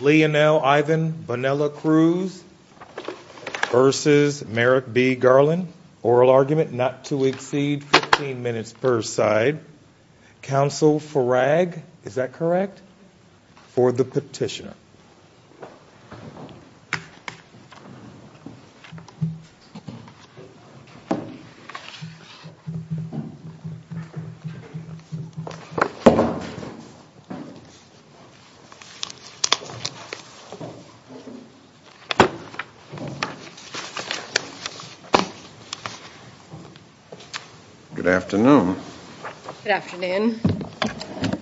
Leonel Ivan Bonilla-Cruz versus Merrick B. Garland. Oral argument not to exceed 15 minutes per side. Counsel Frag, is that correct? For the petitioner. Good afternoon. Good afternoon. I'd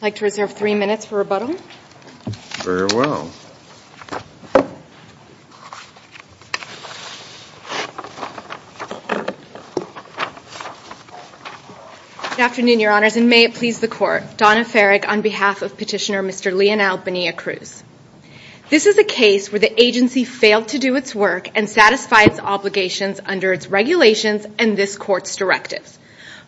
like to reserve three minutes for rebuttal. Very well. Good afternoon, your honors, and may it please the court. Donna Farrick on behalf of petitioner Mr. Leonel Bonilla-Cruz. This is a case where the agency failed to do its work and satisfy its obligations under its regulations and this court's directives.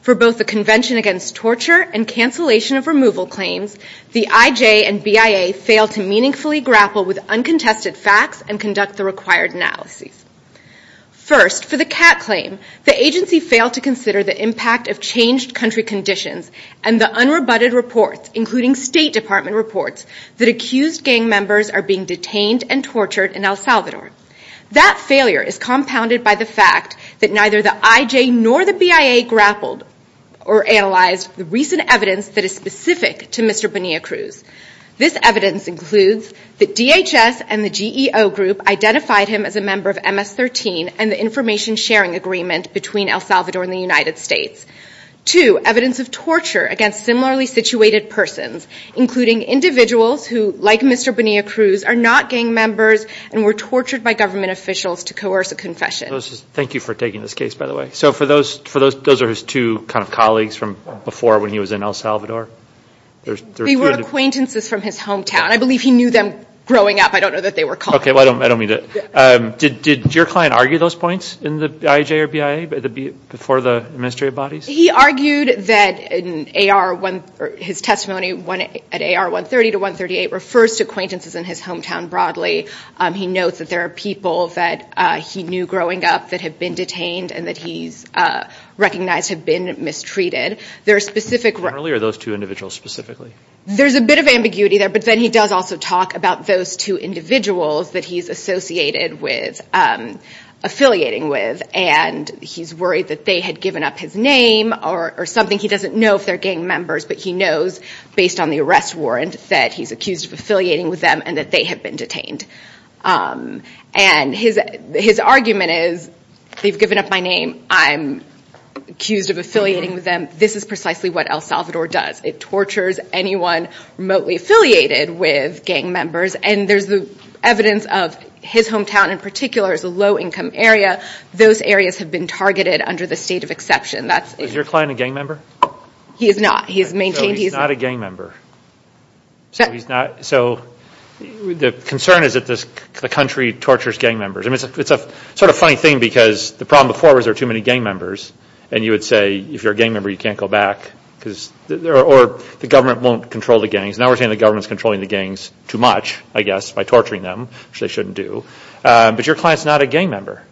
For both the Convention Against Torture and cancellation of removal claims, the IJ and BIA failed to meaningfully grapple with uncontested facts and conduct the required analyses. First, for the CAT claim, the agency failed to consider the impact of changed country conditions and the unrebutted reports, including State Department reports, that accused gang members are being detained and tortured in El Salvador. That failure is compounded by the fact that neither the IJ nor the BIA grappled or analyzed the recent evidence that is specific to Mr. Bonilla-Cruz. This evidence includes that DHS and the GEO group identified him as a member of MS-13 and the information sharing agreement between El Salvador and the United States. Two, evidence of torture against similarly situated persons, including individuals who, like Mr. Bonilla-Cruz, are not gang members and were tortured by government officials to coerce a confession. Thank you for taking this case, by the way. So for those, those are his two kind of colleagues from before when he was in El Salvador. They were acquaintances from his hometown. I believe he knew them growing up. I don't know that they were colleagues. Okay, I don't mean that. Did your client argue those points in the IJ or BIA before the administrative bodies? He argued that in AR, his testimony at AR 130 to 138 refers to acquaintances in his hometown broadly. He notes that there are people that he knew growing up that have been detained and that he's recognized have been mistreated. There are specific... Generally, or those two individuals specifically? There's a bit of ambiguity there, but then he does also talk about those two individuals that he's associated with, affiliating with, and he's worried that they had given up his name or something. He doesn't know if they're gang members, but he knows, based on the arrest warrant, that he's accused of affiliating with them and that they have been detained. And his argument is, they've given up my name. I'm accused of affiliating with them. This is precisely what El Salvador does. It tortures anyone remotely affiliated with gang members. And there's the evidence of his hometown in particular is a low-income area. Those areas have been targeted under the state of exception. Is your client a gang member? He is not. He's maintained he's... So he's not a gang member. So the concern is that the country tortures gang members. I mean, it's a sort of funny thing because the problem before was there were too many gang members. And you would say, if you're a gang member, you can't go back. Or the government won't control the gangs. Now we're saying the government's controlling the gangs too much, I guess, by torturing them, which they shouldn't do. But your client's not a gang member.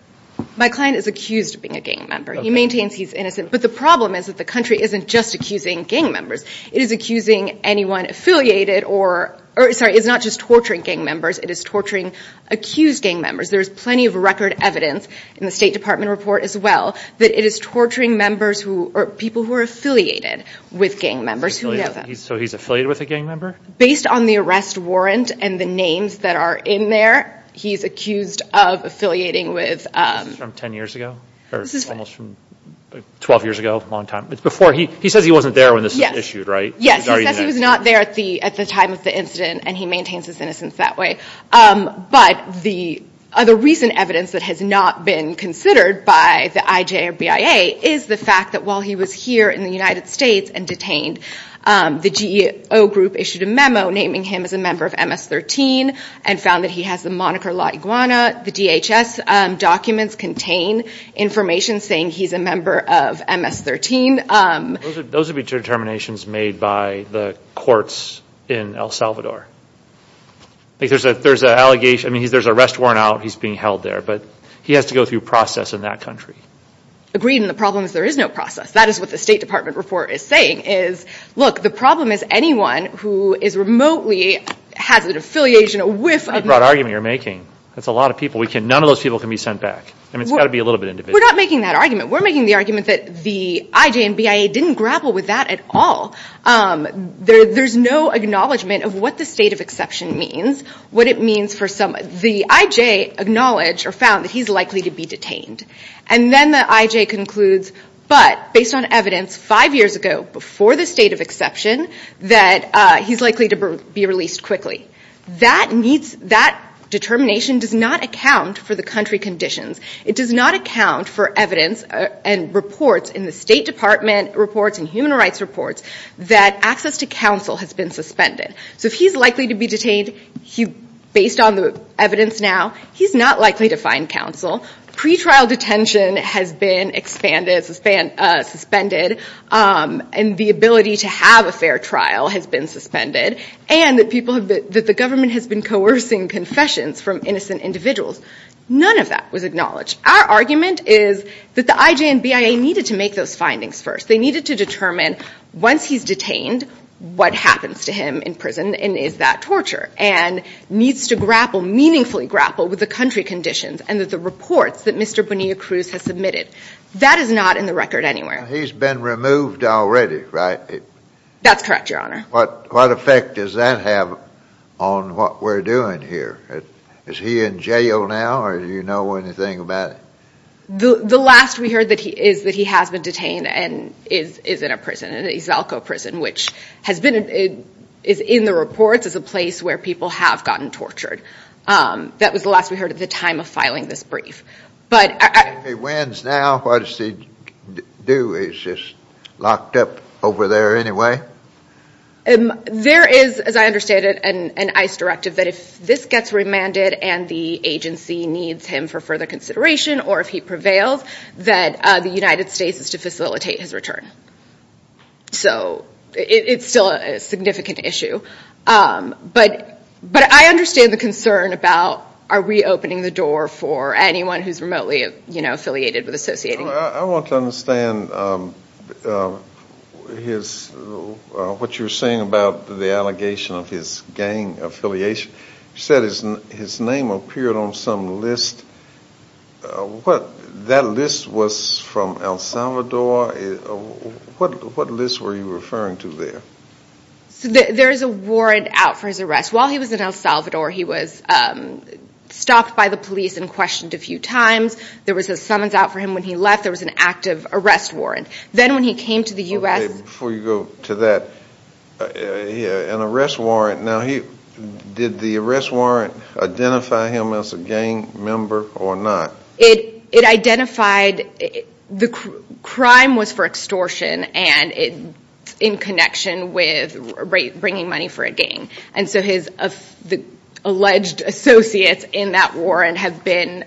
My client is accused of being a gang member. He maintains he's innocent. But the problem is that the country isn't just accusing gang members. It is accusing anyone affiliated or... Sorry, it's not just torturing gang members. It is torturing accused gang members. There's plenty of record evidence in the State Department report as well that it is torturing members who... Or people who are affiliated with gang members who know them. So he's affiliated with a gang member? Based on the arrest warrant and the names that are in there, he's accused of affiliating with... This is from 10 years ago? Or almost from 12 years ago? A long time? It's before... He says he wasn't there when this was issued, right? Yes. He says he was not there at the time of the incident, and he maintains his innocence that way. But the other recent evidence that has not been considered by the IJ or BIA is the fact that while he was here in the United States and detained, the GEO group issued a memo naming him as a member of MS-13 and found that he has the moniker La Iguana. The DHS documents contain information saying he's a member of MS-13. Those would be determinations made by the courts in El Salvador. There's an allegation... There's an arrest warrant out. He's being held there. But he has to go through process in that country. Agreed. And the problem is there is no process. That is what the State Department report is saying is, look, the problem is anyone who is remotely has an affiliation with... That's a broad argument you're making. That's a lot of people. None of those people can be sent back. I mean, it's got to be a little bit individual. We're not making that argument. We're making the argument that the IJ and BIA didn't grapple with that at all. There's no acknowledgement of what the state of exception means, what it means for some... The IJ acknowledged or found that he's likely to be detained. And then the IJ concludes, but based on evidence five years ago before the state of exception, that he's likely to be released quickly. That needs... That determination does not account for the country conditions. It does not account for evidence and reports in the State Department reports and human rights reports that access to counsel has been suspended. So if he's likely to be detained based on the evidence now, he's not likely to find counsel. Pre-trial detention has been expanded, suspended, and the ability to have a fair trial has been suspended. And that people have been... That the government has been coercing confessions from innocent individuals. None of that was acknowledged. Our argument is that the IJ and BIA needed to make those findings first. They needed to determine once he's detained, what happens to him in prison and is that torture? And needs to grapple, meaningfully grapple with the country conditions and that the reports that Mr. Bonilla-Cruz has submitted. That is not in the record anywhere. He's been removed already, right? That's correct, Your Honor. What effect does that have on what we're doing here? Is he in jail now or do you know anything about it? The last we heard that he is, that he has been detained and is in a prison, an Izalco prison, which has been... Is in the reports as a place where people have gotten tortured. That was the last we heard at the time of filing this brief. If he wins now, what does he do? He's just locked up over there anyway? There is, as I understand it, an ICE directive that if this gets remanded and the agency needs him for further consideration or if he prevails, that the United States is to... It's still a significant issue. But I understand the concern about are we opening the door for anyone who's remotely affiliated with Associated News? I want to understand what you're saying about the allegation of his gang affiliation. You said his name appeared on some list. That list was from El Salvador. What list were you referring to there? There's a warrant out for his arrest. While he was in El Salvador, he was stopped by the police and questioned a few times. There was a summons out for him when he left. There was an active arrest warrant. Then when he came to the U.S. Before you go to that, an arrest warrant. Did the arrest warrant identify him as a gang member or not? It identified... The crime was for extortion and in connection with bringing money for a gang. The alleged associates in that warrant have been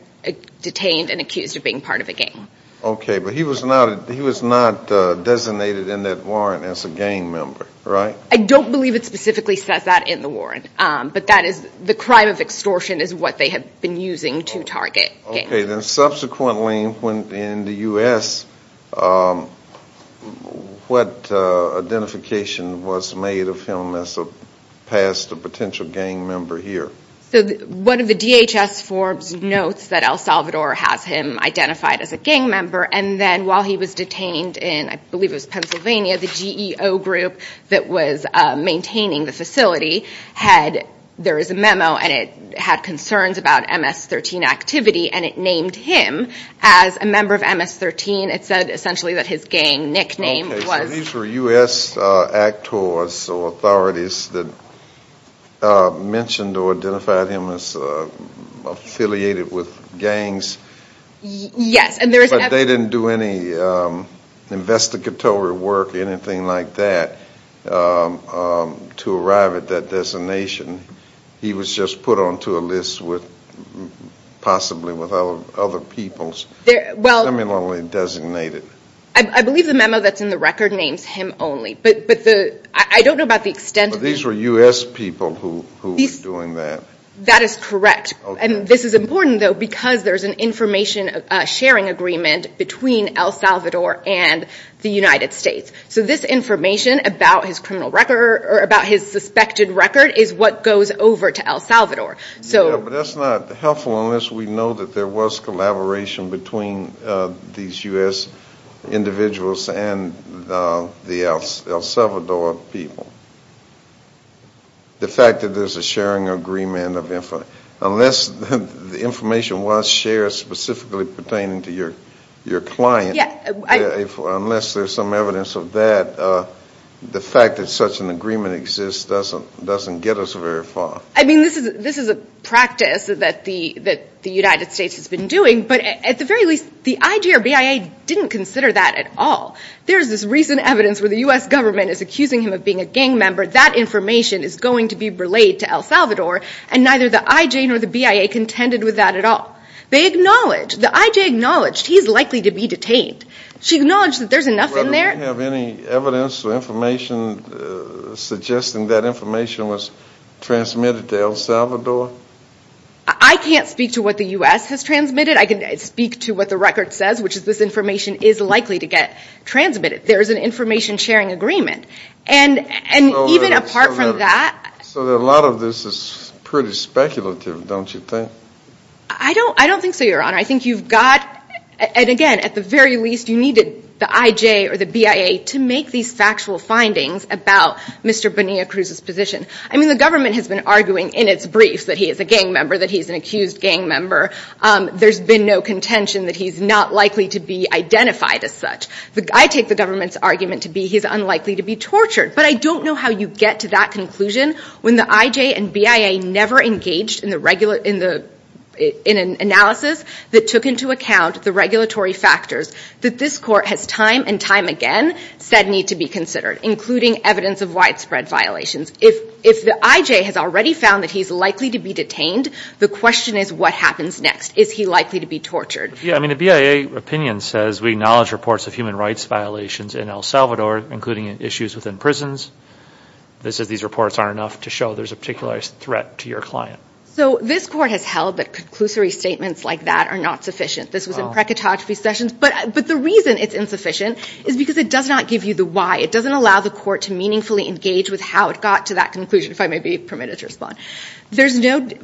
detained and accused of being part of a gang. He was not designated in that warrant as a gang member, right? I don't believe it specifically says that in the warrant. The crime of extortion is what they have been using to target gang members. Okay. Subsequently, in the U.S., what identification was made of him as past a potential gang member here? One of the DHS Forbes notes that El Salvador has him identified as a gang member. Then while he was detained in, I believe it was Pennsylvania, the GEO group that was maintaining the facility had... There is a memo and it had concerns about MS-13 activity and it named him as a member of MS-13. It said essentially that his gang nickname was... Okay. These were U.S. actors or authorities that mentioned or identified him as affiliated with gangs... Yes.... but they didn't do any investigatory work or anything like that to identify him to arrive at that designation. He was just put onto a list possibly with other peoples similarly designated. I believe the memo that's in the record names him only, but I don't know about the extent of... These were U.S. people who were doing that. That is correct. This is important, though, because there's an information sharing agreement between El Salvador and the United States. This information about his criminal record or about his suspected record is what goes over to El Salvador. Yes, but that's not helpful unless we know that there was collaboration between these U.S. individuals and the El Salvador people. The fact that there's a sharing agreement of... Unless the information was shared specifically pertaining to your client... Yes.... unless there's some evidence of that, the fact that such an agreement exists doesn't get us very far. This is a practice that the United States has been doing, but at the very least, the IJ or BIA didn't consider that at all. There's this recent evidence where the U.S. government is accusing him of being a gang member. That information is going to be relayed to El Salvador, and neither the IJ nor the BIA contended with that at all. They acknowledged, the IJ acknowledged he's likely to be detained. She acknowledged that there's enough in there... Well, do we have any evidence or information suggesting that information was transmitted to El Salvador? I can't speak to what the U.S. has transmitted. I can speak to what the record says, which is this information is likely to get transmitted. There is an information sharing agreement, and even apart from that... So a lot of this is pretty speculative, don't you think? I don't think so, Your Honor. I think you've got, and again, at the very least, you needed the IJ or the BIA to make these factual findings about Mr. Bonilla Cruz's position. I mean, the government has been arguing in its briefs that he is a gang member, that he's an accused gang member. There's been no contention that he's not likely to be identified as such. I take the government's argument to be he's unlikely to be tortured, but I don't know how you get to that conclusion when the IJ and BIA never engaged in an analysis that took into account the regulatory factors that this Court has time and time again said need to be considered, including evidence of widespread violations. If the IJ has already found that he's likely to be detained, the question is what happens next. Is he likely to be tortured? Yeah, I mean, the BIA opinion says we acknowledge reports of human rights violations in El Paso prisons. It says these reports aren't enough to show there's a particular threat to your client. So this Court has held that conclusory statements like that are not sufficient. This was in precatography sessions. But the reason it's insufficient is because it does not give you the why. It doesn't allow the Court to meaningfully engage with how it got to that conclusion, if I may be permitted to respond.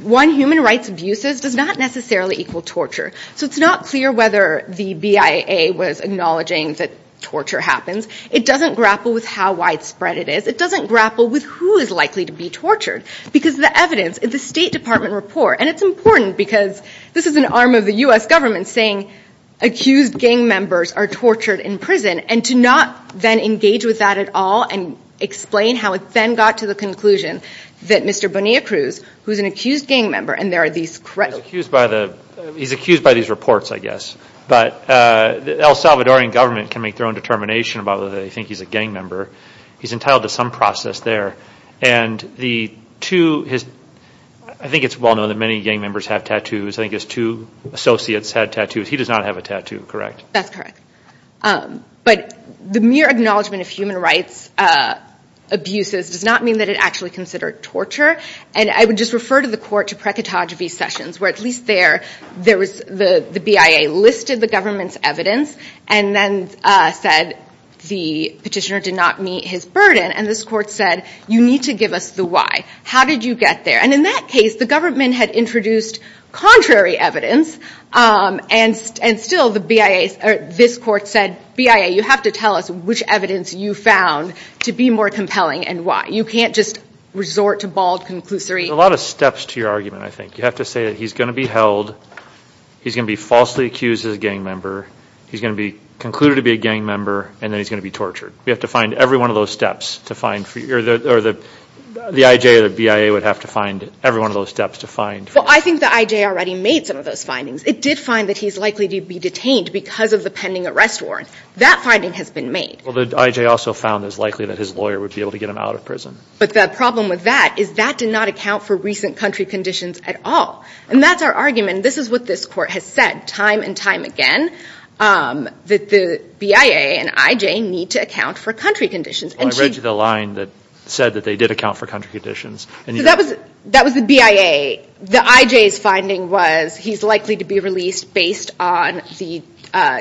One, human rights abuses does not necessarily equal torture. So it's not clear whether the BIA was acknowledging that torture happens. It doesn't grapple with how widespread it is. It doesn't grapple with who is likely to be tortured. Because the evidence in the State Department report, and it's important because this is an arm of the U.S. government saying accused gang members are tortured in prison, and to not then engage with that at all and explain how it then got to the conclusion that Mr. Bonilla-Cruz, who's an accused gang member, and there are these credible... He's accused by these reports, I guess. But El Salvadorian government can make their own determination about whether they think he's a gang member. He's entitled to some process there. And the two, I think it's well known that many gang members have tattoos. I think his two associates had tattoos. He does not have a tattoo, correct? That's correct. But the mere acknowledgement of human rights abuses does not mean that it actually considered torture. And I would just refer to the Court to precatography sessions, where at least there, the BIA listed the government's evidence and then said the petitioner did not meet his burden. And this Court said, you need to give us the why. How did you get there? And in that case, the government had introduced contrary evidence. And still, this Court said, BIA, you have to tell us which evidence you found to be more compelling and why. You can't just resort to bald conclusory... A lot of steps to your argument, I think. You have to say that he's going to be held, he's going to be falsely accused as a gang member, he's going to be concluded to be a gang member, and then he's going to be tortured. We have to find every one of those steps to find... Or the IJ or the BIA would have to find every one of those steps to find... Well, I think the IJ already made some of those findings. It did find that he's likely to be detained because of the pending arrest warrant. That finding has been made. Well, the IJ also found it's likely that his lawyer would be able to get him out of prison. But the problem with that is that did not account for recent country conditions at all. And that's our argument. This is what this Court has said time and time again, that the BIA and IJ need to account for country conditions. Well, I read you the line that said that they did account for country conditions. So that was the BIA. The IJ's finding was he's likely to be released based on the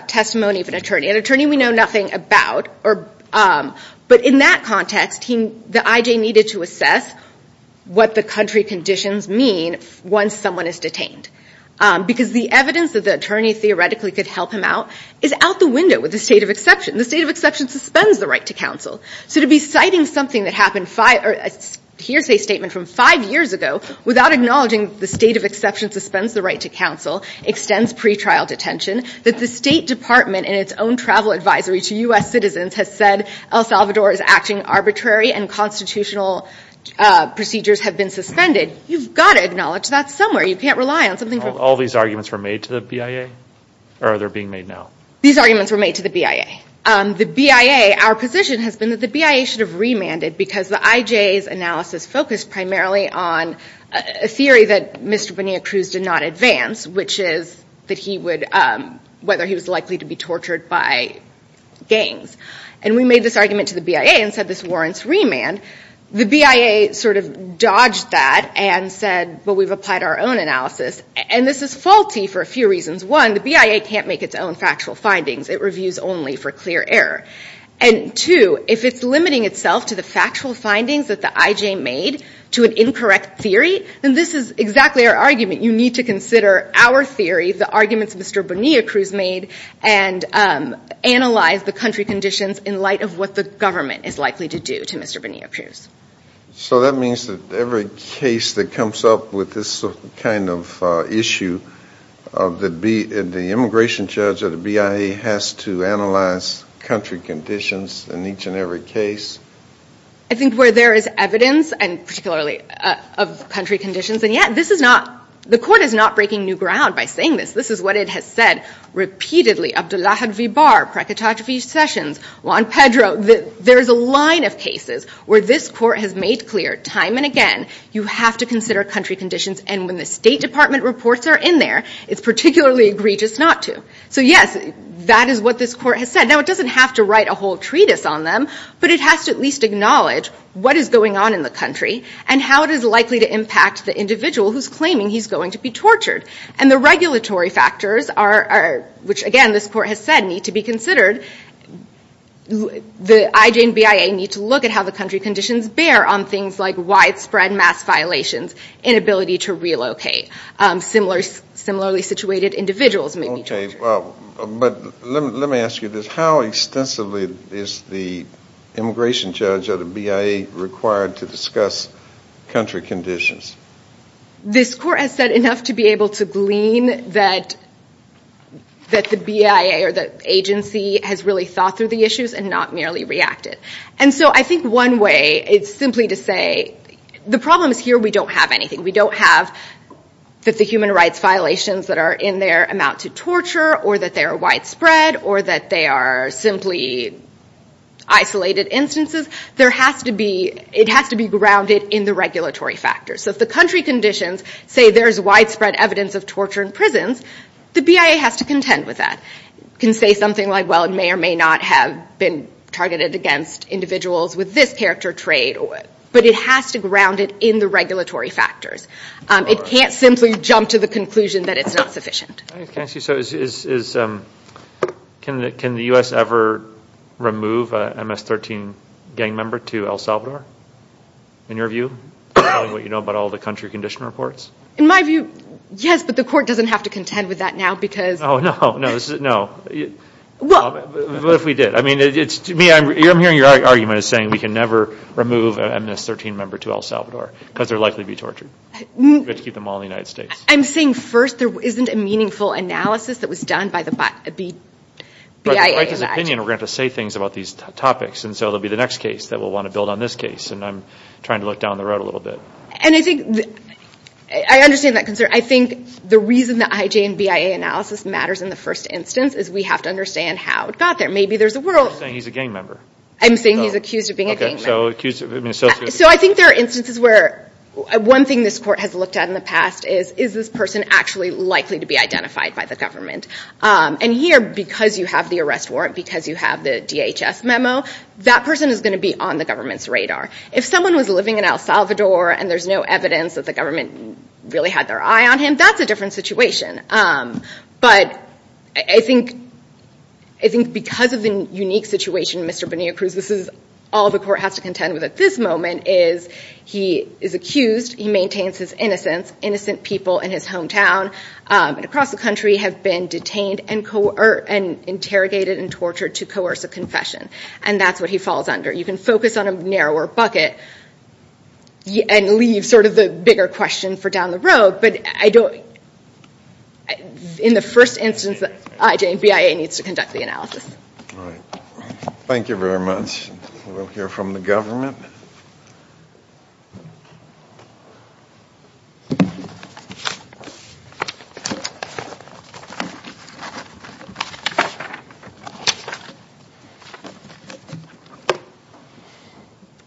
testimony of an attorney, an attorney we know nothing about. But in that context, the IJ needed to assess what the country conditions mean once someone is detained. Because the evidence that the attorney theoretically could help him out is out the window with the state of exception. The state of exception suspends the right to counsel. So to be citing something that happened five... A hearsay statement from five years ago without acknowledging the state of exception suspends the right to counsel, extends pretrial detention, that the State Department in its own travel advisory to U.S. citizens has said El Salvador's acting arbitrary and constitutional procedures have been suspended. You've got to acknowledge that somewhere. You can't rely on something... All these arguments were made to the BIA? Or are they being made now? These arguments were made to the BIA. The BIA, our position has been that the BIA should have remanded because the IJ's analysis focused primarily on a theory that Mr. Benia-Cruz did not advance, which is that he would... Whether he was likely to be tortured by gangs. And we made this argument to the BIA and said this warrants remand. The BIA sort of dodged that and said, well, we've applied our own analysis. And this is faulty for a few reasons. One, the BIA can't make its own factual findings. It reviews only for clear error. And two, if it's limiting itself to the factual findings that the IJ made to an incorrect theory, then this is exactly our argument. You need to consider our theory, the arguments Mr. Benia-Cruz made, and analyze the country conditions in light of what the government is likely to do to Mr. Benia-Cruz. So that means that every case that comes up with this kind of issue, that the immigration judge or the BIA has to analyze country conditions in each and every case? I think where there is evidence, and particularly of country conditions, and yet this is not the court is not breaking new ground by saying this. This is what it has said repeatedly. Abdelahad Vibar, Prakitaj V. Sessions, Juan Pedro, there's a line of cases where this court has made clear time and again you have to consider country conditions. And when the State Department reports are in there, it's particularly egregious not to. So yes, that is what this court has said. Now, it doesn't have to write a whole treatise on them, but it has to at least acknowledge what is going on in the country and how it is likely to impact the individual who's claiming he's going to be tortured. And the regulatory factors are, which again this court has said need to be considered, the IJ and BIA need to look at how the country conditions bear on things like widespread mass violations, inability to relocate, similarly situated individuals may be tortured. But let me ask you this, how extensively is the immigration judge or the BIA required to discuss country conditions? This court has said enough to be able to glean that the BIA or the agency has really thought through the issues and not merely reacted. And so I think one way is simply to say the problem is here we don't have anything. We don't have that the human rights violations that are in there amount to torture or that they are widespread or that they are simply isolated instances. There has to be, it has to be grounded in the regulatory factors. So if the country conditions say there is widespread evidence of torture in prisons, the BIA has to contend with that. It can say something like well it may or may not have been targeted against individuals with this character trait, but it has to ground it in the regulatory factors. It can't simply jump to the conclusion that it's not sufficient. Can I ask you, so is, can the U.S. ever remove an MS-13 gang member to El Salvador? In your view? Telling what you know about all the country condition reports? In my view, yes, but the court doesn't have to contend with that now because... Oh no, no, this is, no. What if we did? I mean, it's to me, I'm hearing your argument as saying we can never remove an MS-13 member to El Salvador because they're likely to be tortured. We have to keep them all in the United States. I'm saying first there isn't a meaningful analysis that was done by the BIA and IJ. But in the plaintiff's opinion, we're going to have to say things about these topics and so it'll be the next case that we'll want to build on this case and I'm trying to look down the road a little bit. And I think, I understand that concern. I think the reason the IJ and BIA analysis matters in the first instance is we have to understand how it got there. Maybe there's a world... You're saying he's a gang member. I'm saying he's accused of being a gang member. So I think there are instances where, one thing this court has looked at in the past is, is this person actually likely to be identified by the government? And here, because you have the arrest warrant, because you have the DHS memo, that person is going to be on the government's radar. If someone was living in El Salvador and there's no evidence that the government really had their eye on him, that's a different situation. But I think, I think because of the unique situation in Mr. Bonilla-Cruz, this is all the court has to contend with at this moment is he is accused. He maintains his innocence. Innocent people in his hometown and across the country have been detained and interrogated and tortured to coerce a confession. And that's what he falls under. You can focus on a narrower bucket and leave sort of the bigger question for down the road, but I don't... In the first instance, the IJ and BIA needs to conduct the analysis. All right. Thank you very much. We'll hear from the government.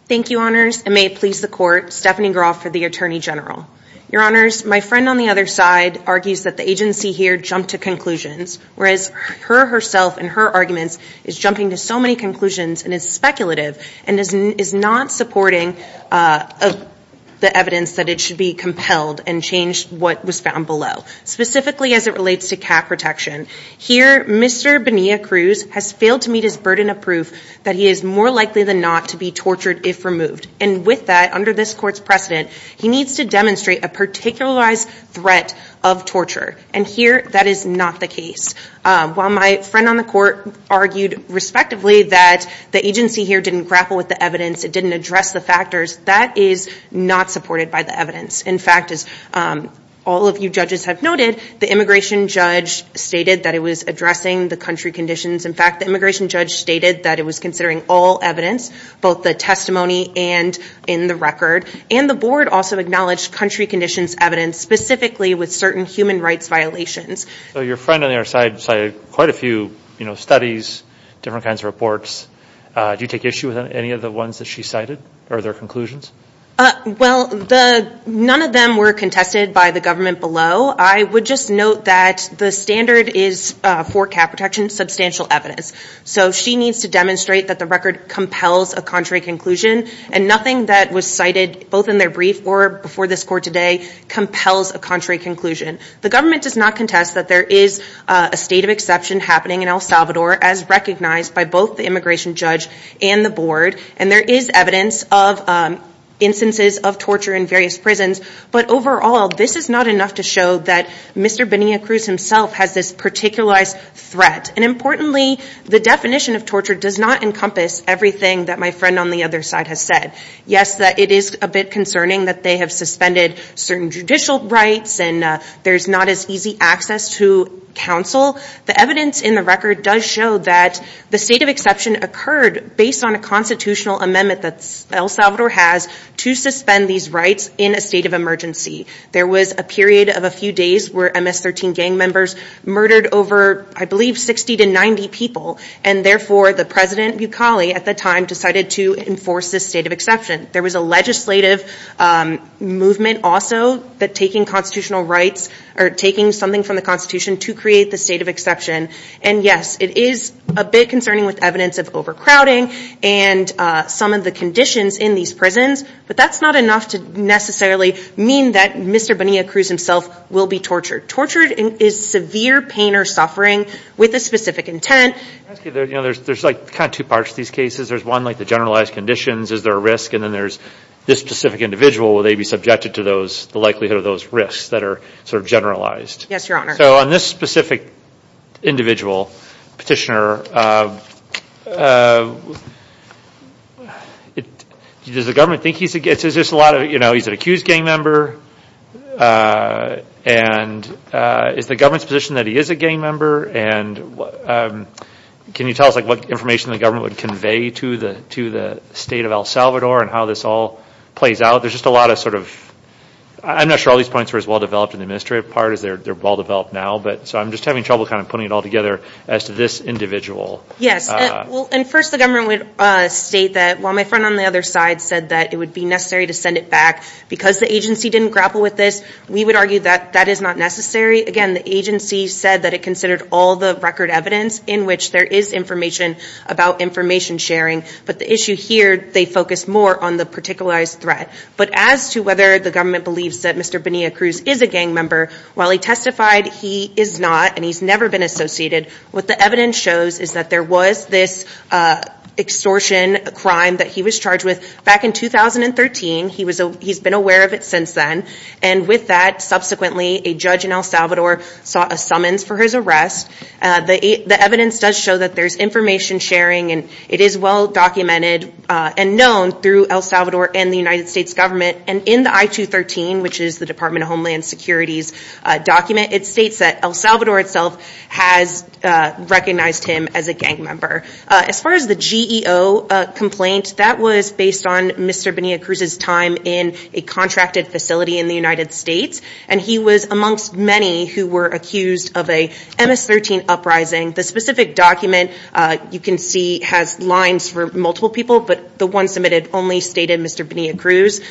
Thank you, Honors, and may it please the court, Stephanie Groff for the Attorney General. Your Honors, my friend on the other side argues that the agency here jumped to conclusions, whereas her herself and her arguments is jumping to so many conclusions and is speculative and is not supporting the evidence that it should be compelled and change what was found below, specifically as it relates to cat protection. Here, Mr. Bonilla-Cruz has failed to meet his burden of proof that he is more likely than not to be tortured if removed. And with that, under this court's precedent, he needs to demonstrate a particularized threat of torture. And here, that is not the case. While my friend on the court argued respectively that the agency here didn't grapple with the evidence, it didn't address the factors, that is not supported by the evidence. In fact, as all of you judges have noted, the immigration judge stated that it was addressing the country conditions. In fact, the immigration judge stated that it was considering all evidence, both the testimony and in the record. And the board also acknowledged country conditions evidence, specifically with certain human rights violations. So your friend on the other side cited quite a few, you know, studies, different kinds of reports. Do you take issue with any of the ones that she cited or their conclusions? Well, none of them were contested by the government below. I would just note that the standard is for cat protection, substantial evidence. So she needs to demonstrate that the record this court today compels a contrary conclusion. The government does not contest that there is a state of exception happening in El Salvador, as recognized by both the immigration judge and the board. And there is evidence of instances of torture in various prisons. But overall, this is not enough to show that Mr. Benia-Cruz himself has this particularized threat. And importantly, the definition of torture does not encompass everything that my friend on the other side has said. Yes, it is a bit concerning that they have suspended certain judicial rights and there's not as easy access to counsel. The evidence in the record does show that the state of exception occurred based on a constitutional amendment that El Salvador has to suspend these rights in a state of emergency. There was a period of a few days where MS-13 gang members murdered over, I believe, 60 to 90 people. And therefore, the president, Bukhali, at the time decided to enforce this state of exception. There was a legislative movement also that taking constitutional rights or taking something from the constitution to create the state of exception. And yes, it is a bit concerning with evidence of overcrowding and some of the conditions in these prisons. But that's not enough to necessarily mean that Mr. Benia-Cruz himself will be tortured. Tortured is severe pain or suffering with a specific intent. Can I ask you, there's kind of two parts to these cases. There's one, like the generalized conditions. Is there a risk? And then there's this specific individual. Will they be subjected to the likelihood of those risks that are sort of generalized? Yes, your honor. So on this specific individual, petitioner, does the government think he's a gang member? And is the government's position that he is a gang member? And can you tell us like what information the government would convey to the state of El Salvador and how this all plays out? There's just a lot of sort of... I'm not sure all these points were as well developed in the administrative part as they're well developed now. But so I'm just having trouble kind of putting it all together as to this individual. Yes. Well, and first the government would state that, well, my friend on the other side said that it would be necessary to send it back. Because the agency didn't grapple with this, we would argue that that is not necessary. Again, the agency said that it considered all the record evidence in which there is information about information sharing. But the issue here, they focus more on the particularized threat. But as to whether the government believes that Mr. Bonilla Cruz is a gang member, while he testified he is not and he's never been associated, what the evidence shows is that there was this extortion crime that he was charged with back in 2013. He's been aware of it since then. And with that, subsequently, a judge in El Salvador sought a summons for his arrest. The evidence does show that there's information sharing and it is well documented and known through El Salvador and the United States government. And in the I-213, which is the Department of Homeland Security's document, it states that El Salvador itself has recognized him as a gang member. As far as the GEO complaint, that was based on Mr. Bonilla Cruz's time in a contracted facility in the United States. And he was amongst many who were accused of a MS-13 uprising. The specific document, you can see, has lines for multiple people, but the one submitted only stated Mr. Bonilla Cruz.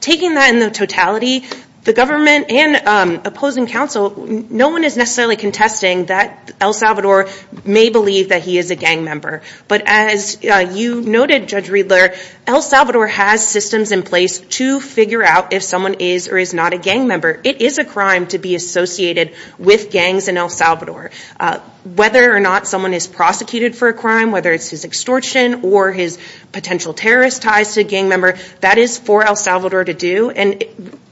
Taking that in the totality, the government and opposing counsel, no one is necessarily contesting that El Salvador may believe that he is a gang member. But as you noted, Judge Riedler, El Salvador has systems in place to figure out if someone is or is not a gang member. It is a crime to be associated with gangs in El Salvador. Whether or not someone is prosecuted for a crime, whether it's his extortion or his potential terrorist ties to a gang member, that is for El Salvador to do. And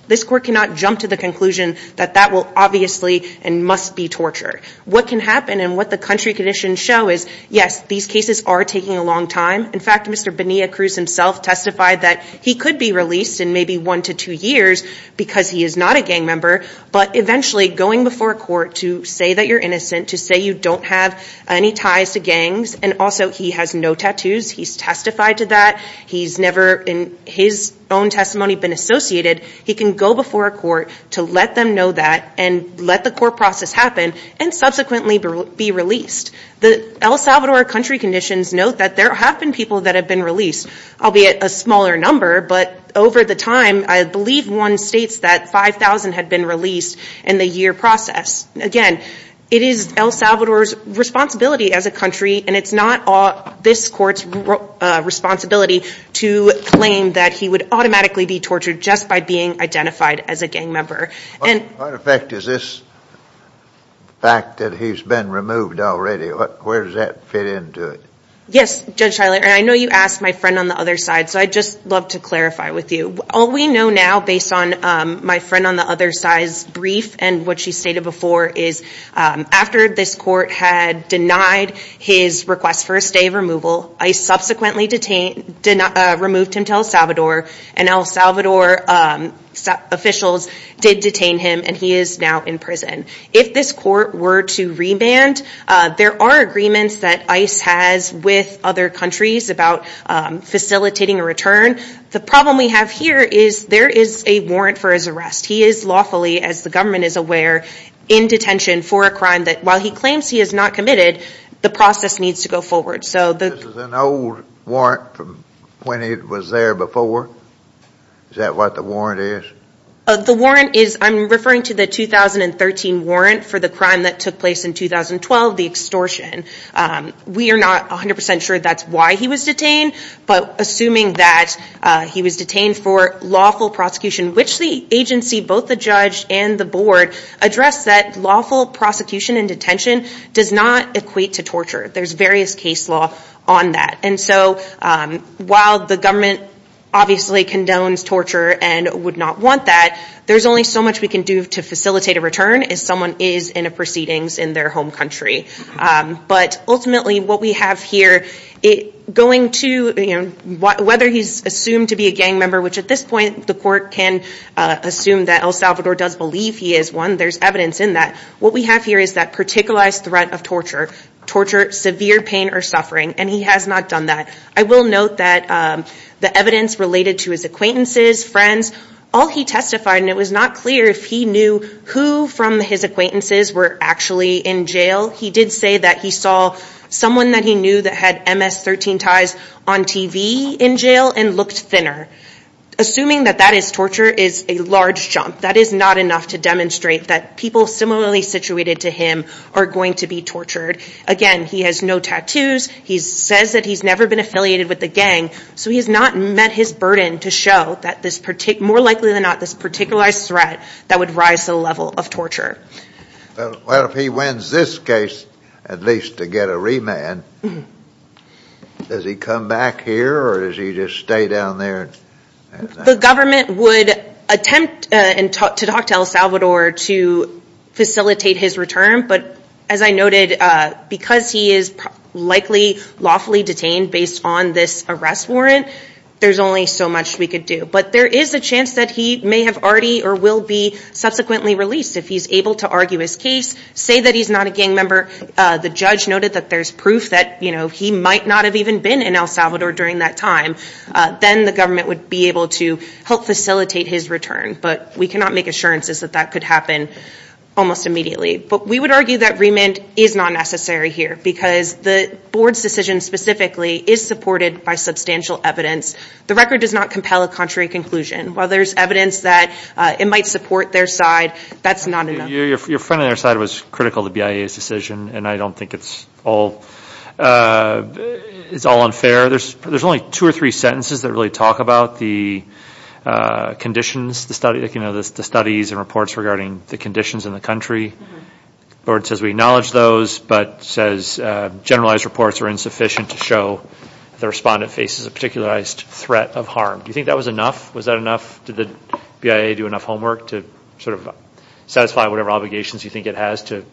this court cannot jump to the conclusion that that will obviously and must be torture. What can happen and what the country conditions show is, yes, these cases are taking a long time. In fact, Mr. Bonilla Cruz himself testified that he could be released in maybe one to two years because he is not a gang member. But eventually, going before a court to say that you're innocent, to say you don't have any ties to gangs, and also he has no tattoos, he's testified to that, he's never in his own testimony been associated, he can go before a court to let them know that and let the court process happen and subsequently be released. The El Salvador country conditions note that there have been people that have been released, albeit a smaller number, but over the time, I believe one states that 5,000 had been released in the year process. Again, it is El Salvador's responsibility as a country and it's not this court's responsibility to claim that he would automatically be tortured just by being identified as a gang member. What effect is this fact that he's been removed already? Where does that fit into it? Yes, Judge Schuyler, and I know you asked my friend on the other side, so I'd just love to clarify with you. All we know now based on my friend on the other side's brief and what she stated before is after this court had denied his request for a stay of removal, ICE subsequently removed him to El Salvador and El Salvador officials did detain him and he is now in prison. If this court were to re-band, there are agreements that ICE has with other countries about facilitating a return. The problem we have here is there is a warrant for his arrest. He is lawfully, as the government is aware, in detention for a crime that while he claims he has not committed, the process needs to go forward. This is an old warrant from when he was there before? Is that what the warrant is? The warrant is, I'm referring to the 2013 warrant for the crime that took place in 2012, the extortion. We are not 100% sure that's why he was detained, but assuming that he was detained for lawful prosecution, which the agency, both the judge and the board, address that lawful prosecution and detention does not equate to torture. There's various case law on that. While the government obviously condones torture and would not want that, there's only so much we can do to facilitate a return if someone is in a proceedings in their home country. Ultimately, what we have here, whether he's assumed to be a gang member, which at this point the court can assume that El Salvador does believe he is one, there's evidence in that, what we have here is that particular threat of torture, severe pain or suffering, and he has not done that. I will note that the evidence related to his acquaintances, friends, all he testified, and it was not clear if he knew who from his acquaintances were actually in jail. He did say that he saw someone that he knew that had MS-13 ties on TV in jail and looked thinner. Assuming that that is torture is a large jump. That is not enough to demonstrate that people similarly situated to him are going to be tortured. Again, he has no tattoos. He says that he's never been affiliated with the gang, so he's not met his burden to show that this particular, more likely than not, this particularized threat that would rise to the level of torture. Well, if he wins this case, at least to get a remand, does he come back here or does he just stay down there? The government would attempt to talk to El Salvador to facilitate his return, but as I noted, because he is likely lawfully detained based on this arrest warrant, there's only so much we could do. But there is a chance that he may have already or will be subsequently released if he's able to argue his case, say that he's not a gang member. The judge noted that there's proof that he might not have even been in El Salvador during that time. Then the government would be able to help facilitate his return, but we cannot make assurances that that could happen almost immediately. But we would argue that remand is not necessary here because the board's decision specifically is supported by substantial evidence. The record does not compel a contrary conclusion. While there's evidence that it might support their side, that's not enough. Your friend on your side was critical of the BIA's decision and I don't think it's all unfair. There's only two or three sentences that really talk about the conditions, the studies and reports regarding the conditions in the country. The board says we acknowledge those but says generalized reports are insufficient to show the respondent faces a particularized threat of harm. Do you think that was enough? Was that enough? Did the BIA do enough homework to sort of satisfy whatever obligations you think it has to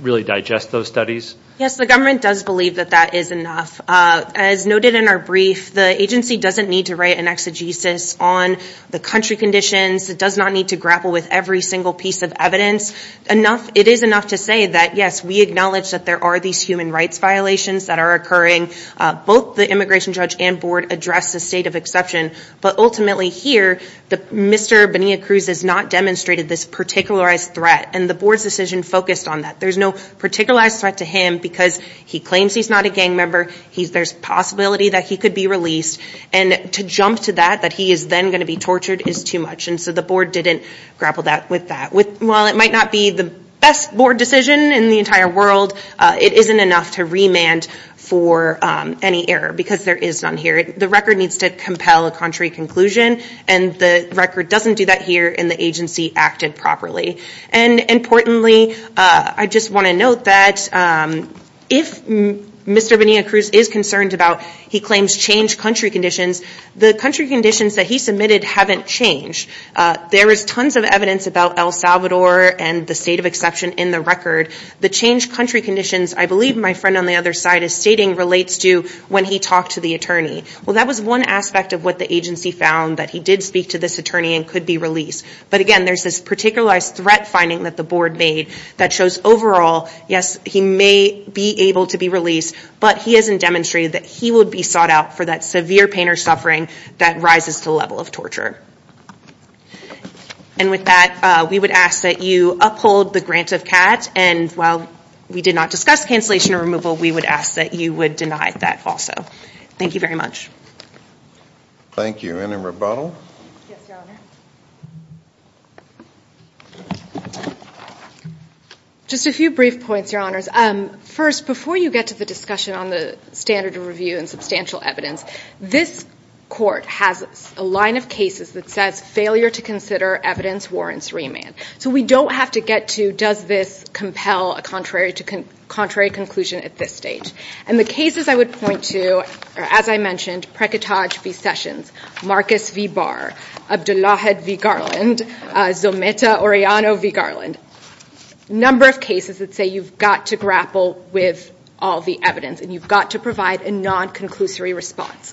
really digest those studies? Yes, the government does believe that that is enough. As noted in our brief, the agency doesn't need to write an exegesis on the country conditions. It does not need to grapple with every single piece of evidence. It is enough to say that yes, we acknowledge that there are these human rights violations that are occurring. Both the immigration judge and board address the state of exception, but ultimately here, Mr. Benia Cruz has not demonstrated this particularized threat and the board's decision focused on that. There's no particularized threat to him because he claims he's not a gang member. There's a possibility that he could be released. To jump to that, that he is then going to be tortured, is too much. The board didn't grapple with that. While it might not be the best board decision in the entire world, it isn't enough to remand for any error because there is none here. The record needs to compel a contrary conclusion and the record doesn't do that here and the agency acted properly. Importantly, I just want to note that if Mr. Benia Cruz is concerned about he claims changed country conditions, the country conditions that he submitted haven't changed. There is tons of evidence about El Salvador and the state of exception in the record. The changed country conditions, I believe my friend on the other side is stating, relates to when he talked to the attorney. That was one aspect of what the agency found that he did speak to this attorney and could be released. But again, there's this particularized threat finding that the board made that shows overall, yes, he may be able to be released, but he hasn't demonstrated that he would be sought out for that severe pain or suffering that rises to the level of torture. And with that, we would ask that you uphold the grant of CAT and while we did not discuss cancellation or removal, we would ask that you would deny that also. Thank you very much. Thank you. Any rebuttal? Just a few brief points, your honors. First, before you get to the discussion on the standard of review and substantial evidence, this court has a line of cases that says failure to consider evidence warrants remand. So we don't have to get to does this compel a contrary conclusion at this stage. And the cases I would point to are, as I mentioned, Prakitaj v. Sessions, Marcus v. Barr, Abdullahad v. Garland, Zometa Orejano v. Garland. Number of cases that say you've got to grapple with all the evidence and you've got to provide a non-conclusory response.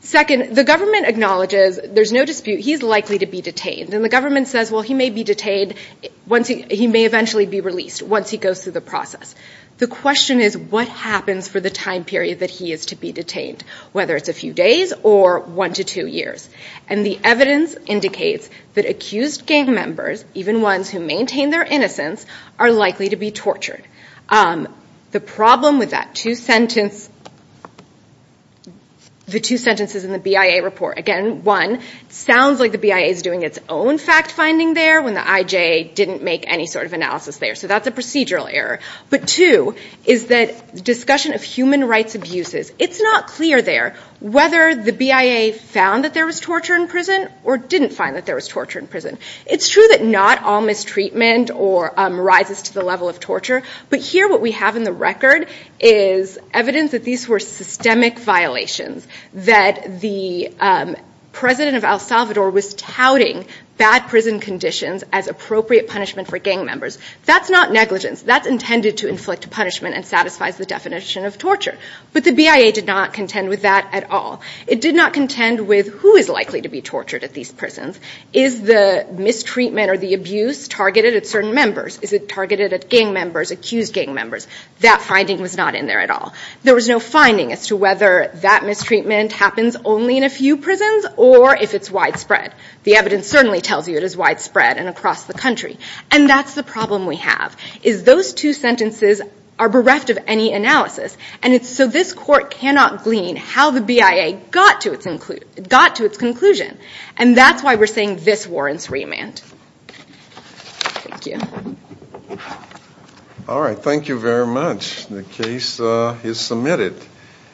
Second, the government acknowledges there's no dispute he's likely to be detained and the government says, well, he may be detained once he may eventually be released once he goes through the process. The question is what happens for the time period that he is to be detained, whether it's a few days or one to two years. And the evidence indicates that accused gang members, even ones who maintain their innocence, are likely to be tortured. The problem with that two sentence, the two sentences in the BIA report, again, one, sounds like the BIA is doing its own fact finding there when the IJA didn't make any sort of process there. So that's a procedural error. But two, is that discussion of human rights abuses, it's not clear there whether the BIA found that there was torture in prison or didn't find that there was torture in prison. It's true that not all mistreatment or rises to the level of torture, but here what we have in the record is evidence that these were systemic violations, that the president of El Salvador was touting bad prison conditions as appropriate punishment for gang members. That's not negligence. That's intended to inflict punishment and satisfies the definition of torture. But the BIA did not contend with that at all. It did not contend with who is likely to be tortured at these prisons. Is the mistreatment or the abuse targeted at certain members? Is it targeted at gang members, accused gang members? That finding was not in there at all. There was no finding as to whether that mistreatment happens only in a few prisons or if it's widespread. The evidence certainly tells you it is widespread and across the country. And that's the problem we have, is those two sentences are bereft of any analysis. And it's so this court cannot glean how the BIA got to its conclusion. And that's why we're saying this warrants remand. Thank you. All right, thank you very much. The case is submitted.